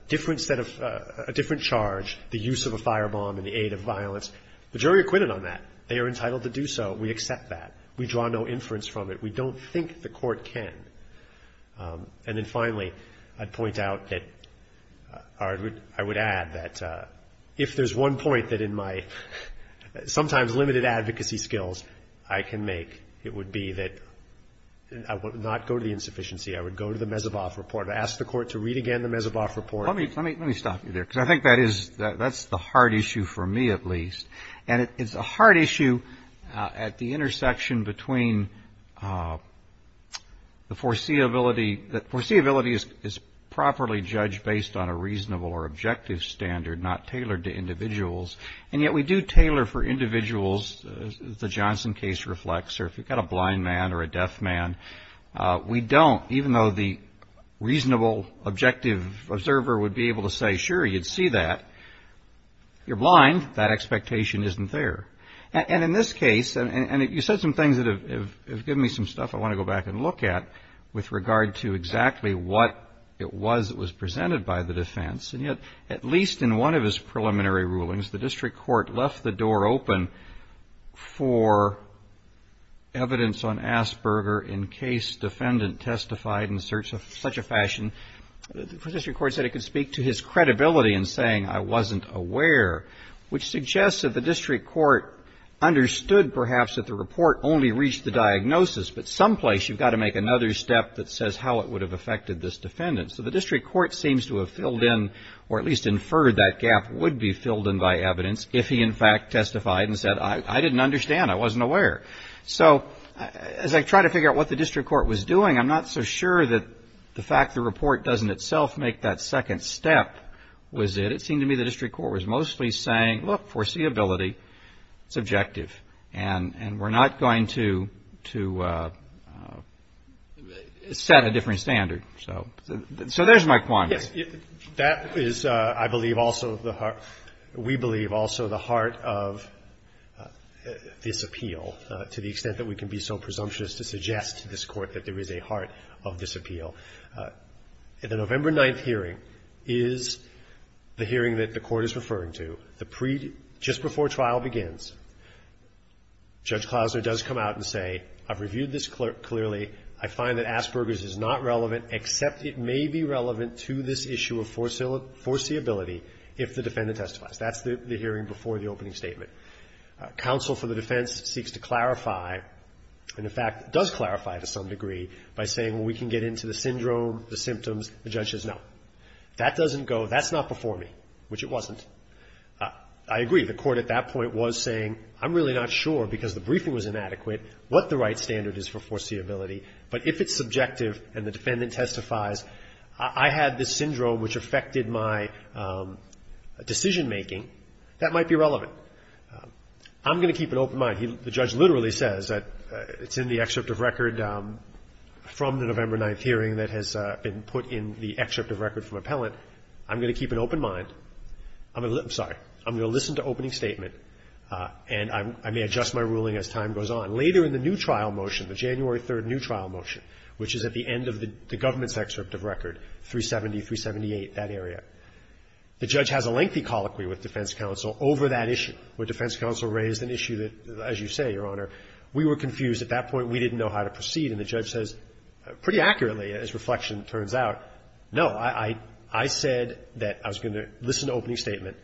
different set of – a different charge, the use of a firebomb and the aid of violence. The jury acquitted on that. They are entitled to do so. We accept that. We draw no inference from it. We don't think the Court can. And then finally, I'd point out that – or I would add that if there's one point that in my sometimes limited advocacy skills I can make, it would be that I would not go to the insufficiency. I would go to the Mezuboff report. I'd ask the Court to read again the Mezuboff report. Roberts. Let me stop you there, because I think that is – that's the hard issue for me, at least. And it's a hard issue at the intersection between the foreseeability – that foreseeability is properly judged based on a reasonable or objective standard, not tailored to individuals. And yet we do tailor for individuals, as the Johnson case reflects, or if you've got a blind man or a deaf man, we don't, even though the reasonable objective observer would be able to say, sure, you'd see that. You're blind. That expectation isn't there. And in this case – and you said some things that have given me some stuff I want to go back and look at with regard to exactly what it was that was presented by the defense. And yet, at least in one of his preliminary rulings, the District Court left the door open for evidence on Asperger in case defendant testified in such a fashion that the District Court said it could speak to his credibility in saying, I wasn't aware, which suggests that the District Court understood, perhaps, that the report only reached the diagnosis, but someplace you've got to make another step that says how it would have affected this defendant. So the District Court seems to have filled in, or at least inferred that gap would be filled in by evidence if he, in fact, testified and said, I didn't understand. I wasn't aware. So as I try to figure out what the District Court was doing, I'm not so sure that the fact the report doesn't itself make that second step was it. It seemed to me the District Court was mostly saying, look, foreseeability, subjective, and we're not going to set a different standard. So there's my quandary. Yes. That is, I believe, also the heart – we believe also the heart of this appeal to the extent that we can be so presumptuous to suggest to this Court that there is a – that the November 9th hearing is the hearing that the Court is referring to, the pre – just before trial begins, Judge Klausner does come out and say, I've reviewed this clearly. I find that Asperger's is not relevant, except it may be relevant to this issue of foreseeability if the defendant testifies. That's the hearing before the opening statement. Counsel for the defense seeks to clarify, and, in fact, does clarify to some degree by saying, well, we can get into the syndrome, the symptoms. The judge says, no. That doesn't go – that's not before me, which it wasn't. I agree. The Court at that point was saying, I'm really not sure, because the briefing was inadequate, what the right standard is for foreseeability, but if it's subjective and the defendant testifies, I had this syndrome which affected my decision-making, that might be relevant. I'm going to keep an open mind. The judge literally says that it's in the excerpt of record from the November 9th hearing that has been put in the excerpt of record from appellant. I'm going to keep an open mind. I'm going to – I'm sorry. I'm going to listen to opening statement, and I may adjust my ruling as time goes on. Later in the new trial motion, the January 3rd new trial motion, which is at the end of the government's excerpt of record, 370, 378, that area, the judge has a lengthy colloquy with defense counsel over that issue, where defense counsel raised an issue that, as you say, Your Honor, we were confused. At that point, we didn't know how to proceed. And the judge says pretty accurately, as reflection turns out, no, I said that I was going to listen to opening statement.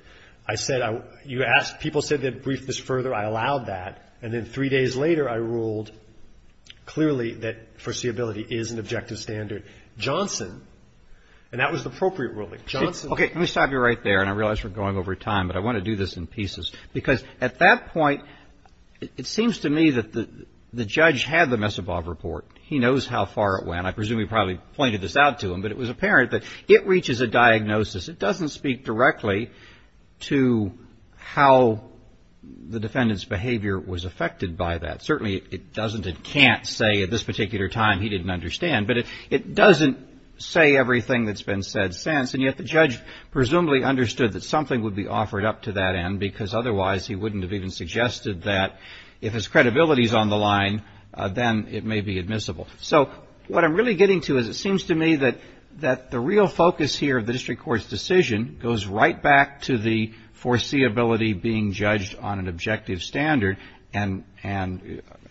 I said I – you asked – people said they'd brief this further. I allowed that. And then three days later, I ruled clearly that foreseeability is an objective standard. Johnson – and that was the appropriate ruling. Johnson – I'm throwing over time, but I want to do this in pieces, because at that point, it seems to me that the judge had the Messobob report. He knows how far it went. I presume he probably pointed this out to him, but it was apparent that it reaches a diagnosis. It doesn't speak directly to how the defendant's behavior was affected by that. Certainly, it doesn't and can't say at this particular time he didn't understand, but it doesn't say everything that's been said since, and yet the judge presumably understood that something would be offered up to that end, because otherwise, he wouldn't have even suggested that if his credibility is on the line, then it may be admissible. So what I'm really getting to is it seems to me that the real focus here of the district court's decision goes right back to the foreseeability being judged on an objective standard, and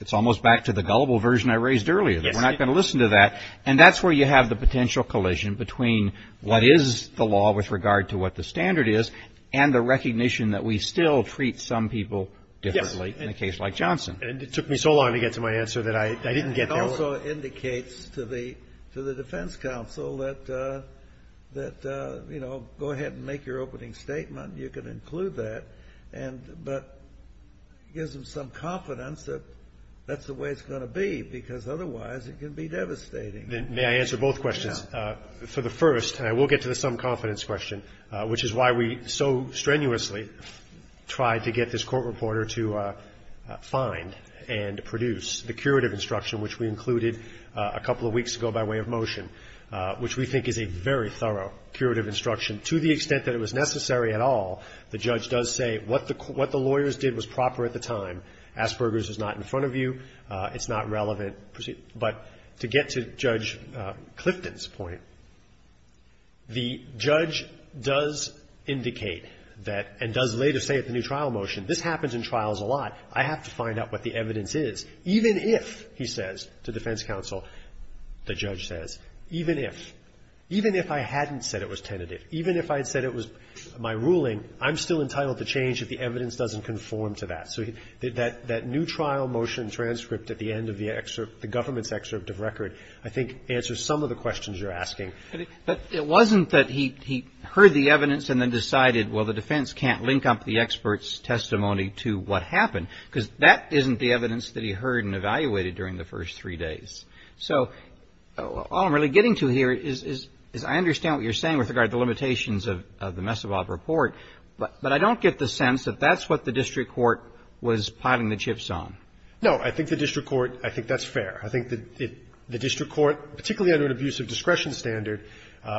it's almost back to the gullible version I raised earlier, that we're not going to listen to that. And that's where you have the potential collision between what is the law with regard to what the standard is and the recognition that we still treat some people differently in a case like Johnson. And it took me so long to get to my answer that I didn't get there. It also indicates to the defense counsel that, you know, go ahead and make your opening statement. You can include that, but it gives them some confidence that that's the way it's going to be, because otherwise, it can be devastating. May I answer both questions? For the first, and I will get to the some confidence question, which is why we so strenuously tried to get this court reporter to find and produce the curative instruction, which we included a couple of weeks ago by way of motion, which we think is a very thorough curative instruction. To the extent that it was necessary at all, the judge does say what the lawyers did was proper at the time. Asperger's is not in front of you. It's not relevant. But to get to Judge Clifton's point, the judge does indicate that and does later say at the new trial motion, this happens in trials a lot. I have to find out what the evidence is, even if, he says to defense counsel, the judge says, even if, even if I hadn't said it was tentative, even if I had said it was my ruling, I'm still entitled to change if the evidence doesn't conform to that. So that new trial motion transcript at the end of the government's excerpt of record I think answers some of the questions you're asking. But it wasn't that he heard the evidence and then decided, well, the defense can't link up the expert's testimony to what happened, because that isn't the evidence that he heard and evaluated during the first three days. So all I'm really getting to here is I understand what you're saying with regard to the limitations of the Messobob report, but I don't get the sense that that's what the district court was plotting the chips on. No. I think the district court, I think that's fair. I think the district court, particularly under an abuse of discretion standard,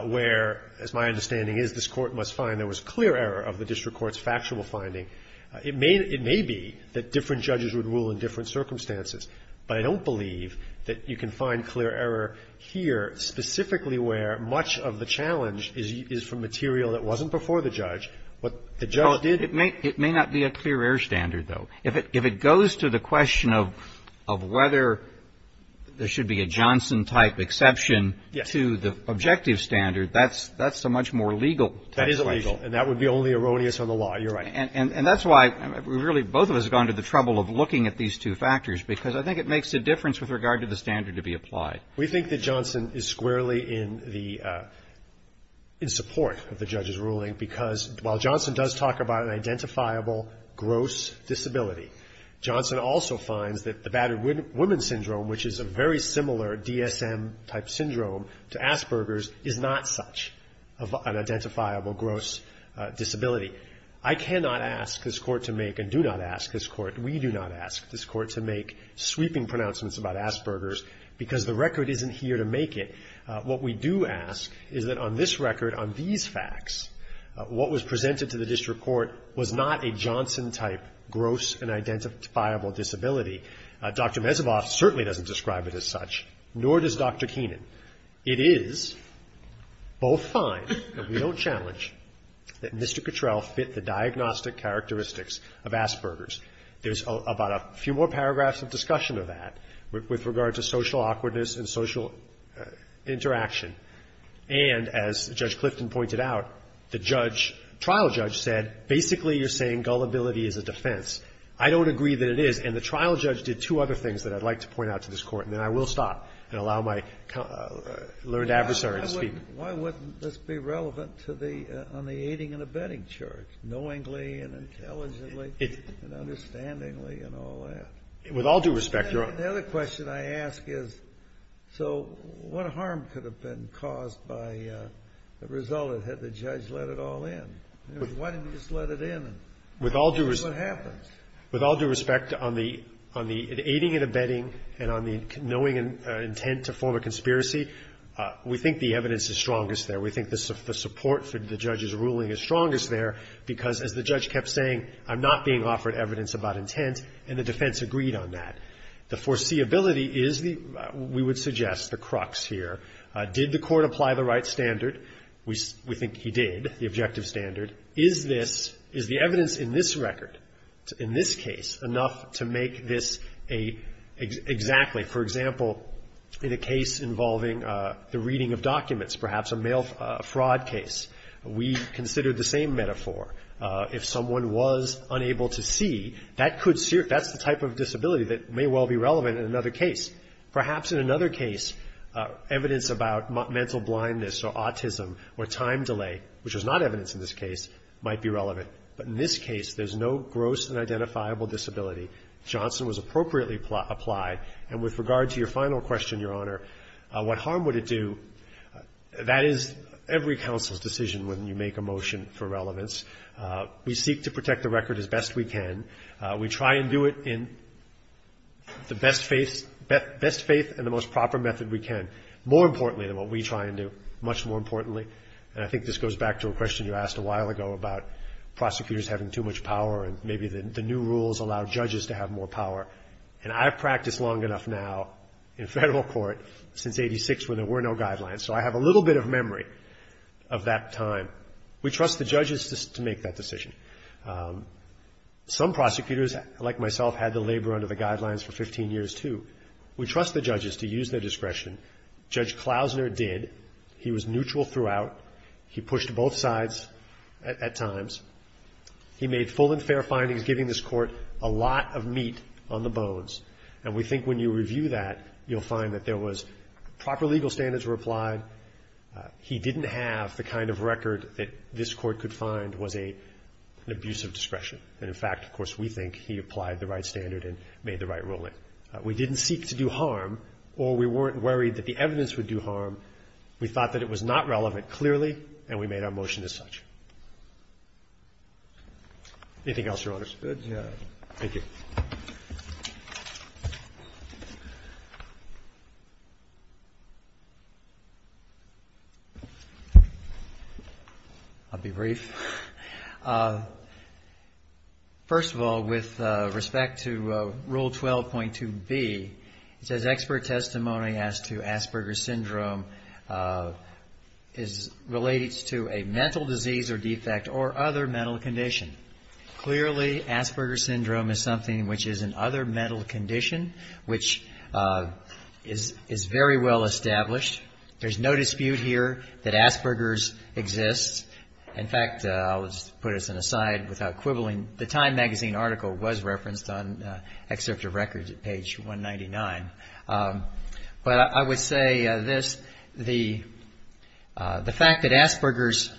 where, as my understanding is, this Court must find there was clear error of the district court's factual finding, it may be that different judges would rule in different circumstances. But I don't believe that you can find clear error here, specifically where much of the challenge is from material that wasn't before the judge. What the judge did was not clear. It's not a clear error standard, though. If it goes to the question of whether there should be a Johnson-type exception to the objective standard, that's a much more legal situation. That is illegal. And that would be only erroneous on the law. You're right. And that's why, really, both of us have gone to the trouble of looking at these two factors, because I think it makes a difference with regard to the standard to be applied. We think that Johnson is squarely in the – in support of the judge's ruling, because while Johnson does talk about an identifiable gross disability, Johnson also finds that the battered woman syndrome, which is a very similar DSM-type syndrome to Asperger's, is not such of an identifiable gross disability. I cannot ask this Court to make, and do not ask this Court, we do not ask this Court to make sweeping pronouncements about Asperger's because the record isn't here to make it. What we do ask is that on this record, on these facts, what was presented to the district court was not a Johnson-type gross and identifiable disability. Dr. Mezovoff certainly doesn't describe it as such, nor does Dr. Keenan. It is both fine, and we don't challenge, that Mr. Cottrell fit the diagnostic characteristics of Asperger's. There's about a few more paragraphs of discussion of that with regard to social awkwardness and social interaction. And as Judge Clifton pointed out, the judge, trial judge, said basically you're saying gullibility is a defense. I don't agree that it is. And the trial judge did two other things that I'd like to point out to this Court, and then I will stop and allow my learned adversary to speak. Why wouldn't this be relevant to the – on the aiding and abetting charge, knowingly and intelligently and understandingly and all that? With all due respect, Your Honor. The other question I ask is, so what harm could have been caused by the result of it, had the judge let it all in? Why didn't he just let it in and see what happens? With all due respect, on the aiding and abetting and on the knowing and intent to form a conspiracy, we think the evidence is strongest there. We think the support for the judge's ruling is strongest there because, as the judge kept saying, I'm not being offered evidence about intent, and the defense agreed on that. The foreseeability is the – we would suggest the crux here. Did the Court apply the right standard? We think he did, the objective standard. Is this – is the evidence in this record, in this case, enough to make this a – exactly? For example, in a case involving the reading of documents, perhaps a mail fraud case, we considered the same metaphor. If someone was unable to see, that could – that's the type of disability that may well be relevant in another case. Perhaps in another case, evidence about mental blindness or autism or time delay, which was not evidence in this case, might be relevant. But in this case, there's no gross and identifiable disability. Johnson was appropriately applied. And with regard to your final question, Your Honor, what harm would it do? That is every counsel's decision when you make a motion for relevance. We seek to protect the record as best we can. We try and do it in the best faith and the most proper method we can, more importantly than what we try and do, much more importantly. And I think this goes back to a question you asked a while ago about prosecutors having too much power and maybe the new rules allow judges to have more power. And I've practiced long enough now in federal court since 86 when there were no guidelines, so I have a little bit of memory of that time. We trust the judges to make that decision. Some prosecutors, like myself, had to labor under the guidelines for 15 years, too. We trust the judges to use their discretion. Judge Klausner did. He was neutral throughout. He pushed both sides at times. He made full and fair findings, giving this court a lot of meat on the bones. And we think when you review that, you'll find that there was proper legal standards were applied. He didn't have the kind of record that this court could find was an abuse of discretion. And, in fact, of course, we think he applied the right standard and made the right ruling. We didn't seek to do harm, or we weren't worried that the evidence would do harm. We thought that it was not relevant, clearly, and we made our motion as such. Anything else, Your Honors? Good. Thank you. I'll be brief. First of all, with respect to Rule 12.2B, it says, as to Asperger's syndrome is related to a mental disease or defect or other mental condition. Clearly, Asperger's syndrome is something which is an other mental condition, which is very well established. There's no dispute here that Asperger's exists. In fact, I'll just put this aside without quibbling. The Time magazine article was referenced on excerpt of records at page 199. But I would say this. The fact that Asperger's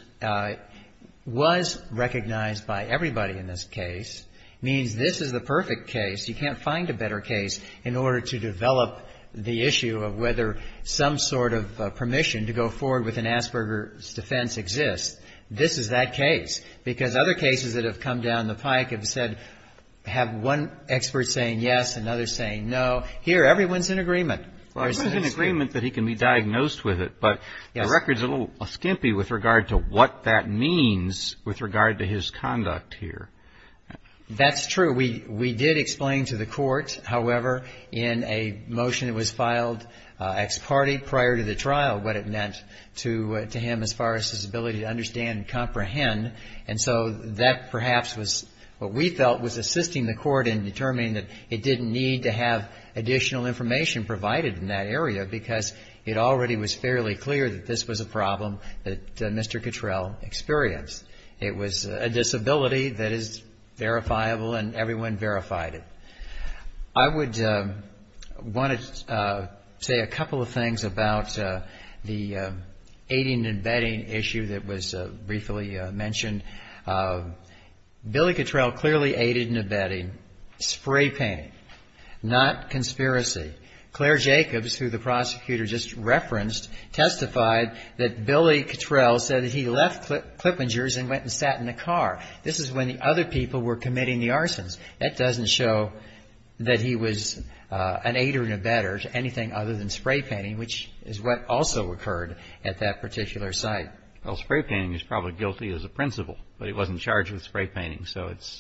was recognized by everybody in this case means this is the perfect case. You can't find a better case in order to develop the issue of whether some sort of permission to go forward with an Asperger's defense exists. This is that case. Because other cases that have come down the pike have said, have one expert saying yes, another saying no. Here, everyone's in agreement. Well, everyone's in agreement that he can be diagnosed with it. But the record's a little skimpy with regard to what that means with regard to his conduct here. That's true. We did explain to the Court, however, in a motion that was filed ex parte prior to the trial, what it meant to him as far as his ability to understand and comprehend. And so that perhaps was what we felt was assisting the Court in determining that it didn't need to have additional information provided in that area because it already was fairly clear that this was a problem that Mr. Cottrell experienced. It was a disability that is verifiable and everyone verified it. I would want to say a couple of things about the aiding and abetting issue that was briefly mentioned. Billy Cottrell clearly aided and abetted spray painting, not conspiracy. Claire Jacobs, who the prosecutor just referenced, testified that Billy Cottrell said that he left Clippinger's and went and sat in the car. This is when the other people were committing the arsons. That doesn't show that he was an aider and abetter to anything other than spray painting, which is what also occurred at that particular site. Well, spray painting is probably guilty as a principle, but he wasn't charged with spray painting.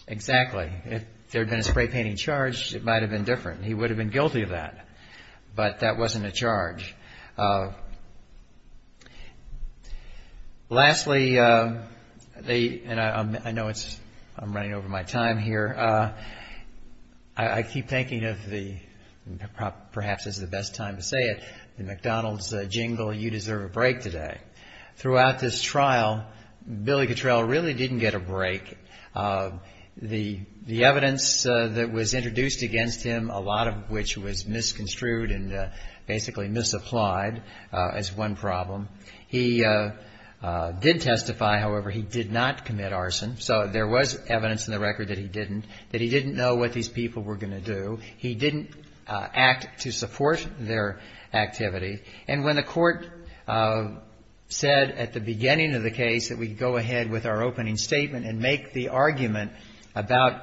Exactly. If there had been a spray painting charge, it might have been different. He would have been guilty of that, but that wasn't a charge. Lastly, and I know I'm running over my time here, I keep thinking of the, perhaps this is the best time to say it, the McDonald's jingle, you deserve a break today. Throughout this trial, Billy Cottrell really didn't get a break. The evidence that was introduced against him, a lot of which was misconstrued and basically misapplied as one problem. He did testify, however, he did not commit arson. So there was evidence in the record that he didn't, that he didn't know what these people were going to do. He didn't act to support their activity. And when the court said at the beginning of the case that we go ahead with our opening statement and make the argument about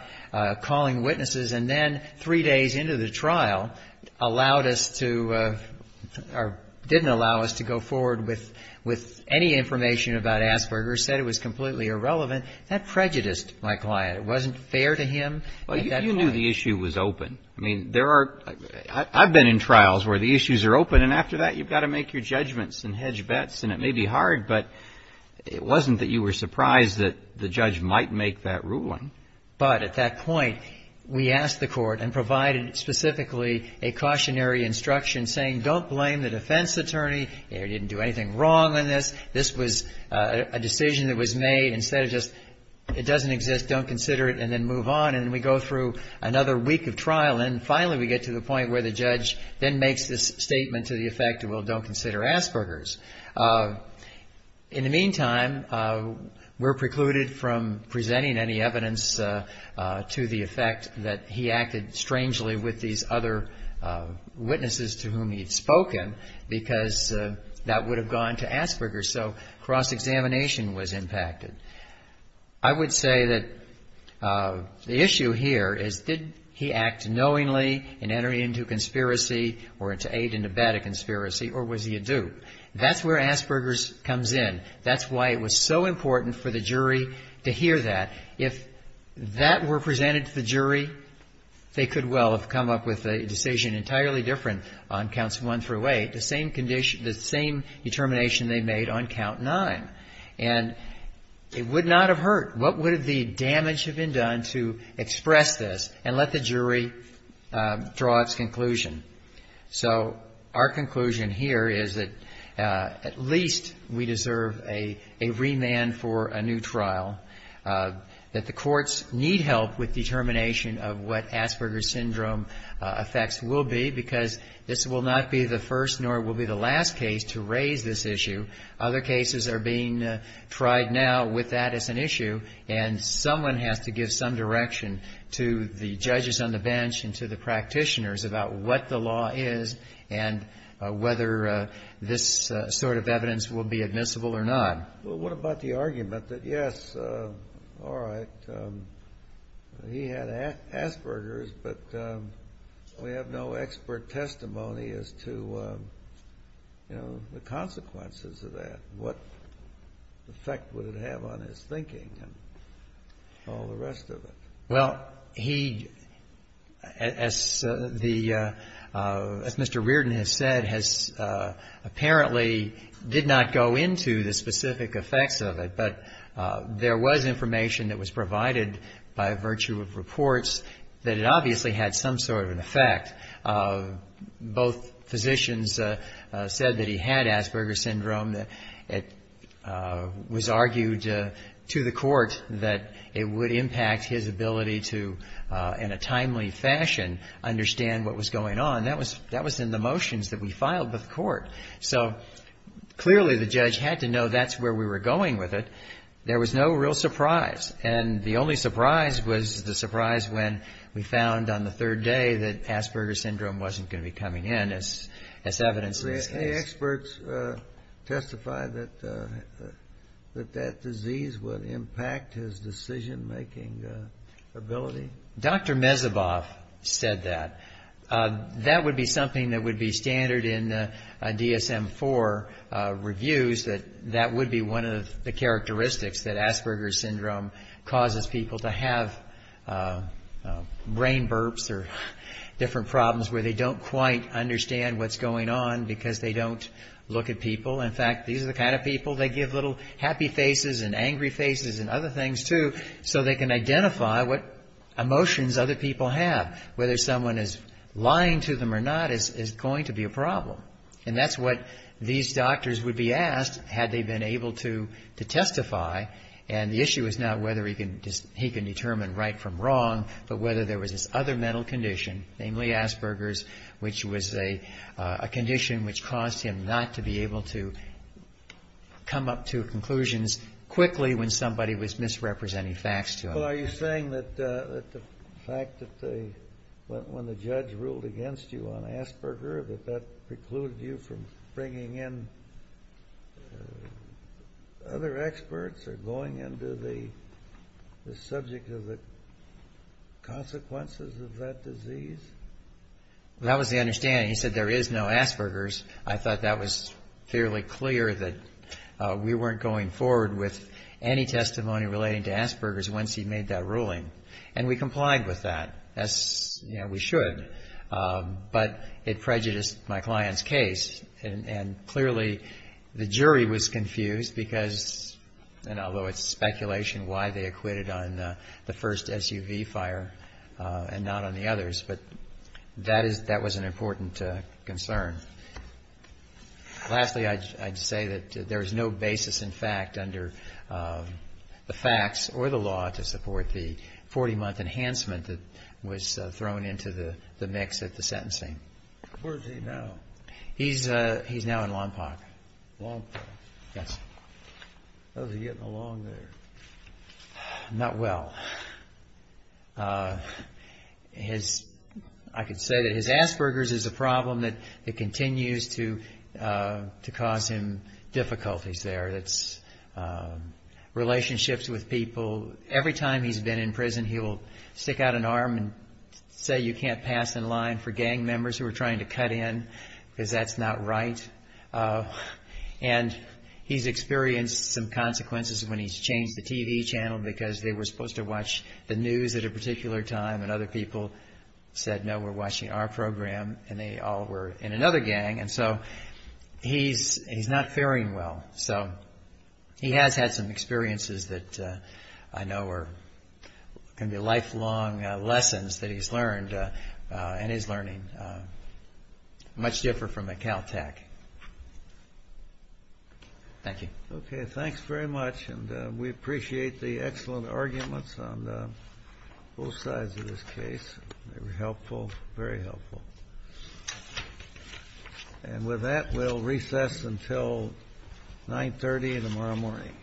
calling witnesses and then three days into the trial, allowed us to, or didn't allow us to go forward with any information about Asperger's, said it was completely irrelevant, that prejudiced my client. It wasn't fair to him. Well, you knew the issue was open. I mean, there are, I've been in trials where the issues are open and after that you've got to make your judgments and hedge bets. And it may be hard, but it wasn't that you were surprised that the judge might make that ruling. But at that point, we asked the court and provided specifically a cautionary instruction saying don't blame the defense attorney. They didn't do anything wrong in this. This was a decision that was made. Instead of just, it doesn't exist, don't consider it, and then move on. And then we go through another week of trial. And finally we get to the point where the judge then makes this statement to the effect, well, don't consider Asperger's. In the meantime, we're precluded from presenting any evidence to the effect that he acted strangely with these other witnesses to whom he had spoken because that would have gone to Asperger's. So cross-examination was impacted. I would say that the issue here is did he act knowingly in entering into conspiracy or to aid and abet a conspiracy, or was he a dupe? That's where Asperger's comes in. That's why it was so important for the jury to hear that. If that were presented to the jury, they could well have come up with a decision entirely different on counts one through eight, the same determination they made on count nine. And it would not have hurt. What would the damage have been done to express this and let the jury draw its conclusion? So our conclusion here is that at least we deserve a remand for a new trial, that the courts need help with determination of what Asperger's Syndrome effects will be because this will not be the first nor will be the last case to raise this issue. Other cases are being tried now with that as an issue, and someone has to give some direction to the judges on the bench and to the practitioners about what the law is and whether this sort of evidence will be admissible or not. Well, what about the argument that, yes, all right, he had Asperger's, but we have no expert testimony as to, you know, the consequences of that. What effect would it have on his thinking and all the rest of it? Well, he, as the Mr. Reardon has said, has apparently did not go into the specific effects of it, but there was information that was provided by virtue of reports that it obviously had some sort of an effect. Both physicians said that he had Asperger's Syndrome. It was argued to the court that it would impact his ability to, in a timely fashion, understand what was going on. That was in the motions that we filed with the court. So clearly the judge had to know that's where we were going with it. There was no real surprise. And the only surprise was the surprise when we found on the third day that Asperger's Syndrome wasn't going to be coming in, as evidenced in this case. Did any experts testify that that disease would impact his decision-making ability? Dr. Mezeboff said that. That would be something that would be standard in the DSM-IV reviews, that that would be one of the characteristics that Asperger's Syndrome causes people to have brain burps or different problems where they don't quite understand what's going on because they don't look at people. In fact, these are the kind of people they give little happy faces and angry faces and other things to so they can identify what emotions other people have. Whether someone is lying to them or not is going to be a problem. And that's what these doctors would be asked had they been able to testify. And the issue is not whether he can determine right from wrong, but whether there was this other mental condition, namely Asperger's, which was a condition which caused him not to be able to come up to conclusions quickly when somebody was misrepresenting facts to him. Well, are you saying that the fact that when the judge ruled against you on Asperger, that that precluded you from bringing in other experts or going into the subject of the consequences of that disease? That was the understanding. He said there is no Asperger's. I thought that was fairly clear that we weren't going forward with any testimony relating to Asperger's once he made that ruling. And we complied with that, as we should. But it prejudiced my client's case, and clearly the jury was confused because, although it's speculation why they acquitted on the first SUV fire and not on the others, but that was an important concern. Lastly, I'd say that there is no basis in fact under the facts or the law to support the 40-month enhancement that was thrown into the mix at the sentencing. Where is he now? He's now in Lompoc. Lompoc. Yes. How's he getting along there? Not well. I could say that his Asperger's is a problem that continues to cause him difficulties there. Relationships with people. Every time he's been in prison, he will stick out an arm and say you can't pass in line for gang members who are trying to cut in, because that's not right. And he's experienced some consequences when he's changed the TV channel because they were supposed to watch the news at a particular time, and other people said no, we're watching our program, and they all were in another gang. And so he's not faring well. So he has had some experiences that I know are going to be lifelong lessons that he's learned, and is learning, much different from a Cal Tech. Thank you. Okay, thanks very much, and we appreciate the excellent arguments on both sides of this case. They were helpful, very helpful. And with that, we'll recess until 9.30 tomorrow morning.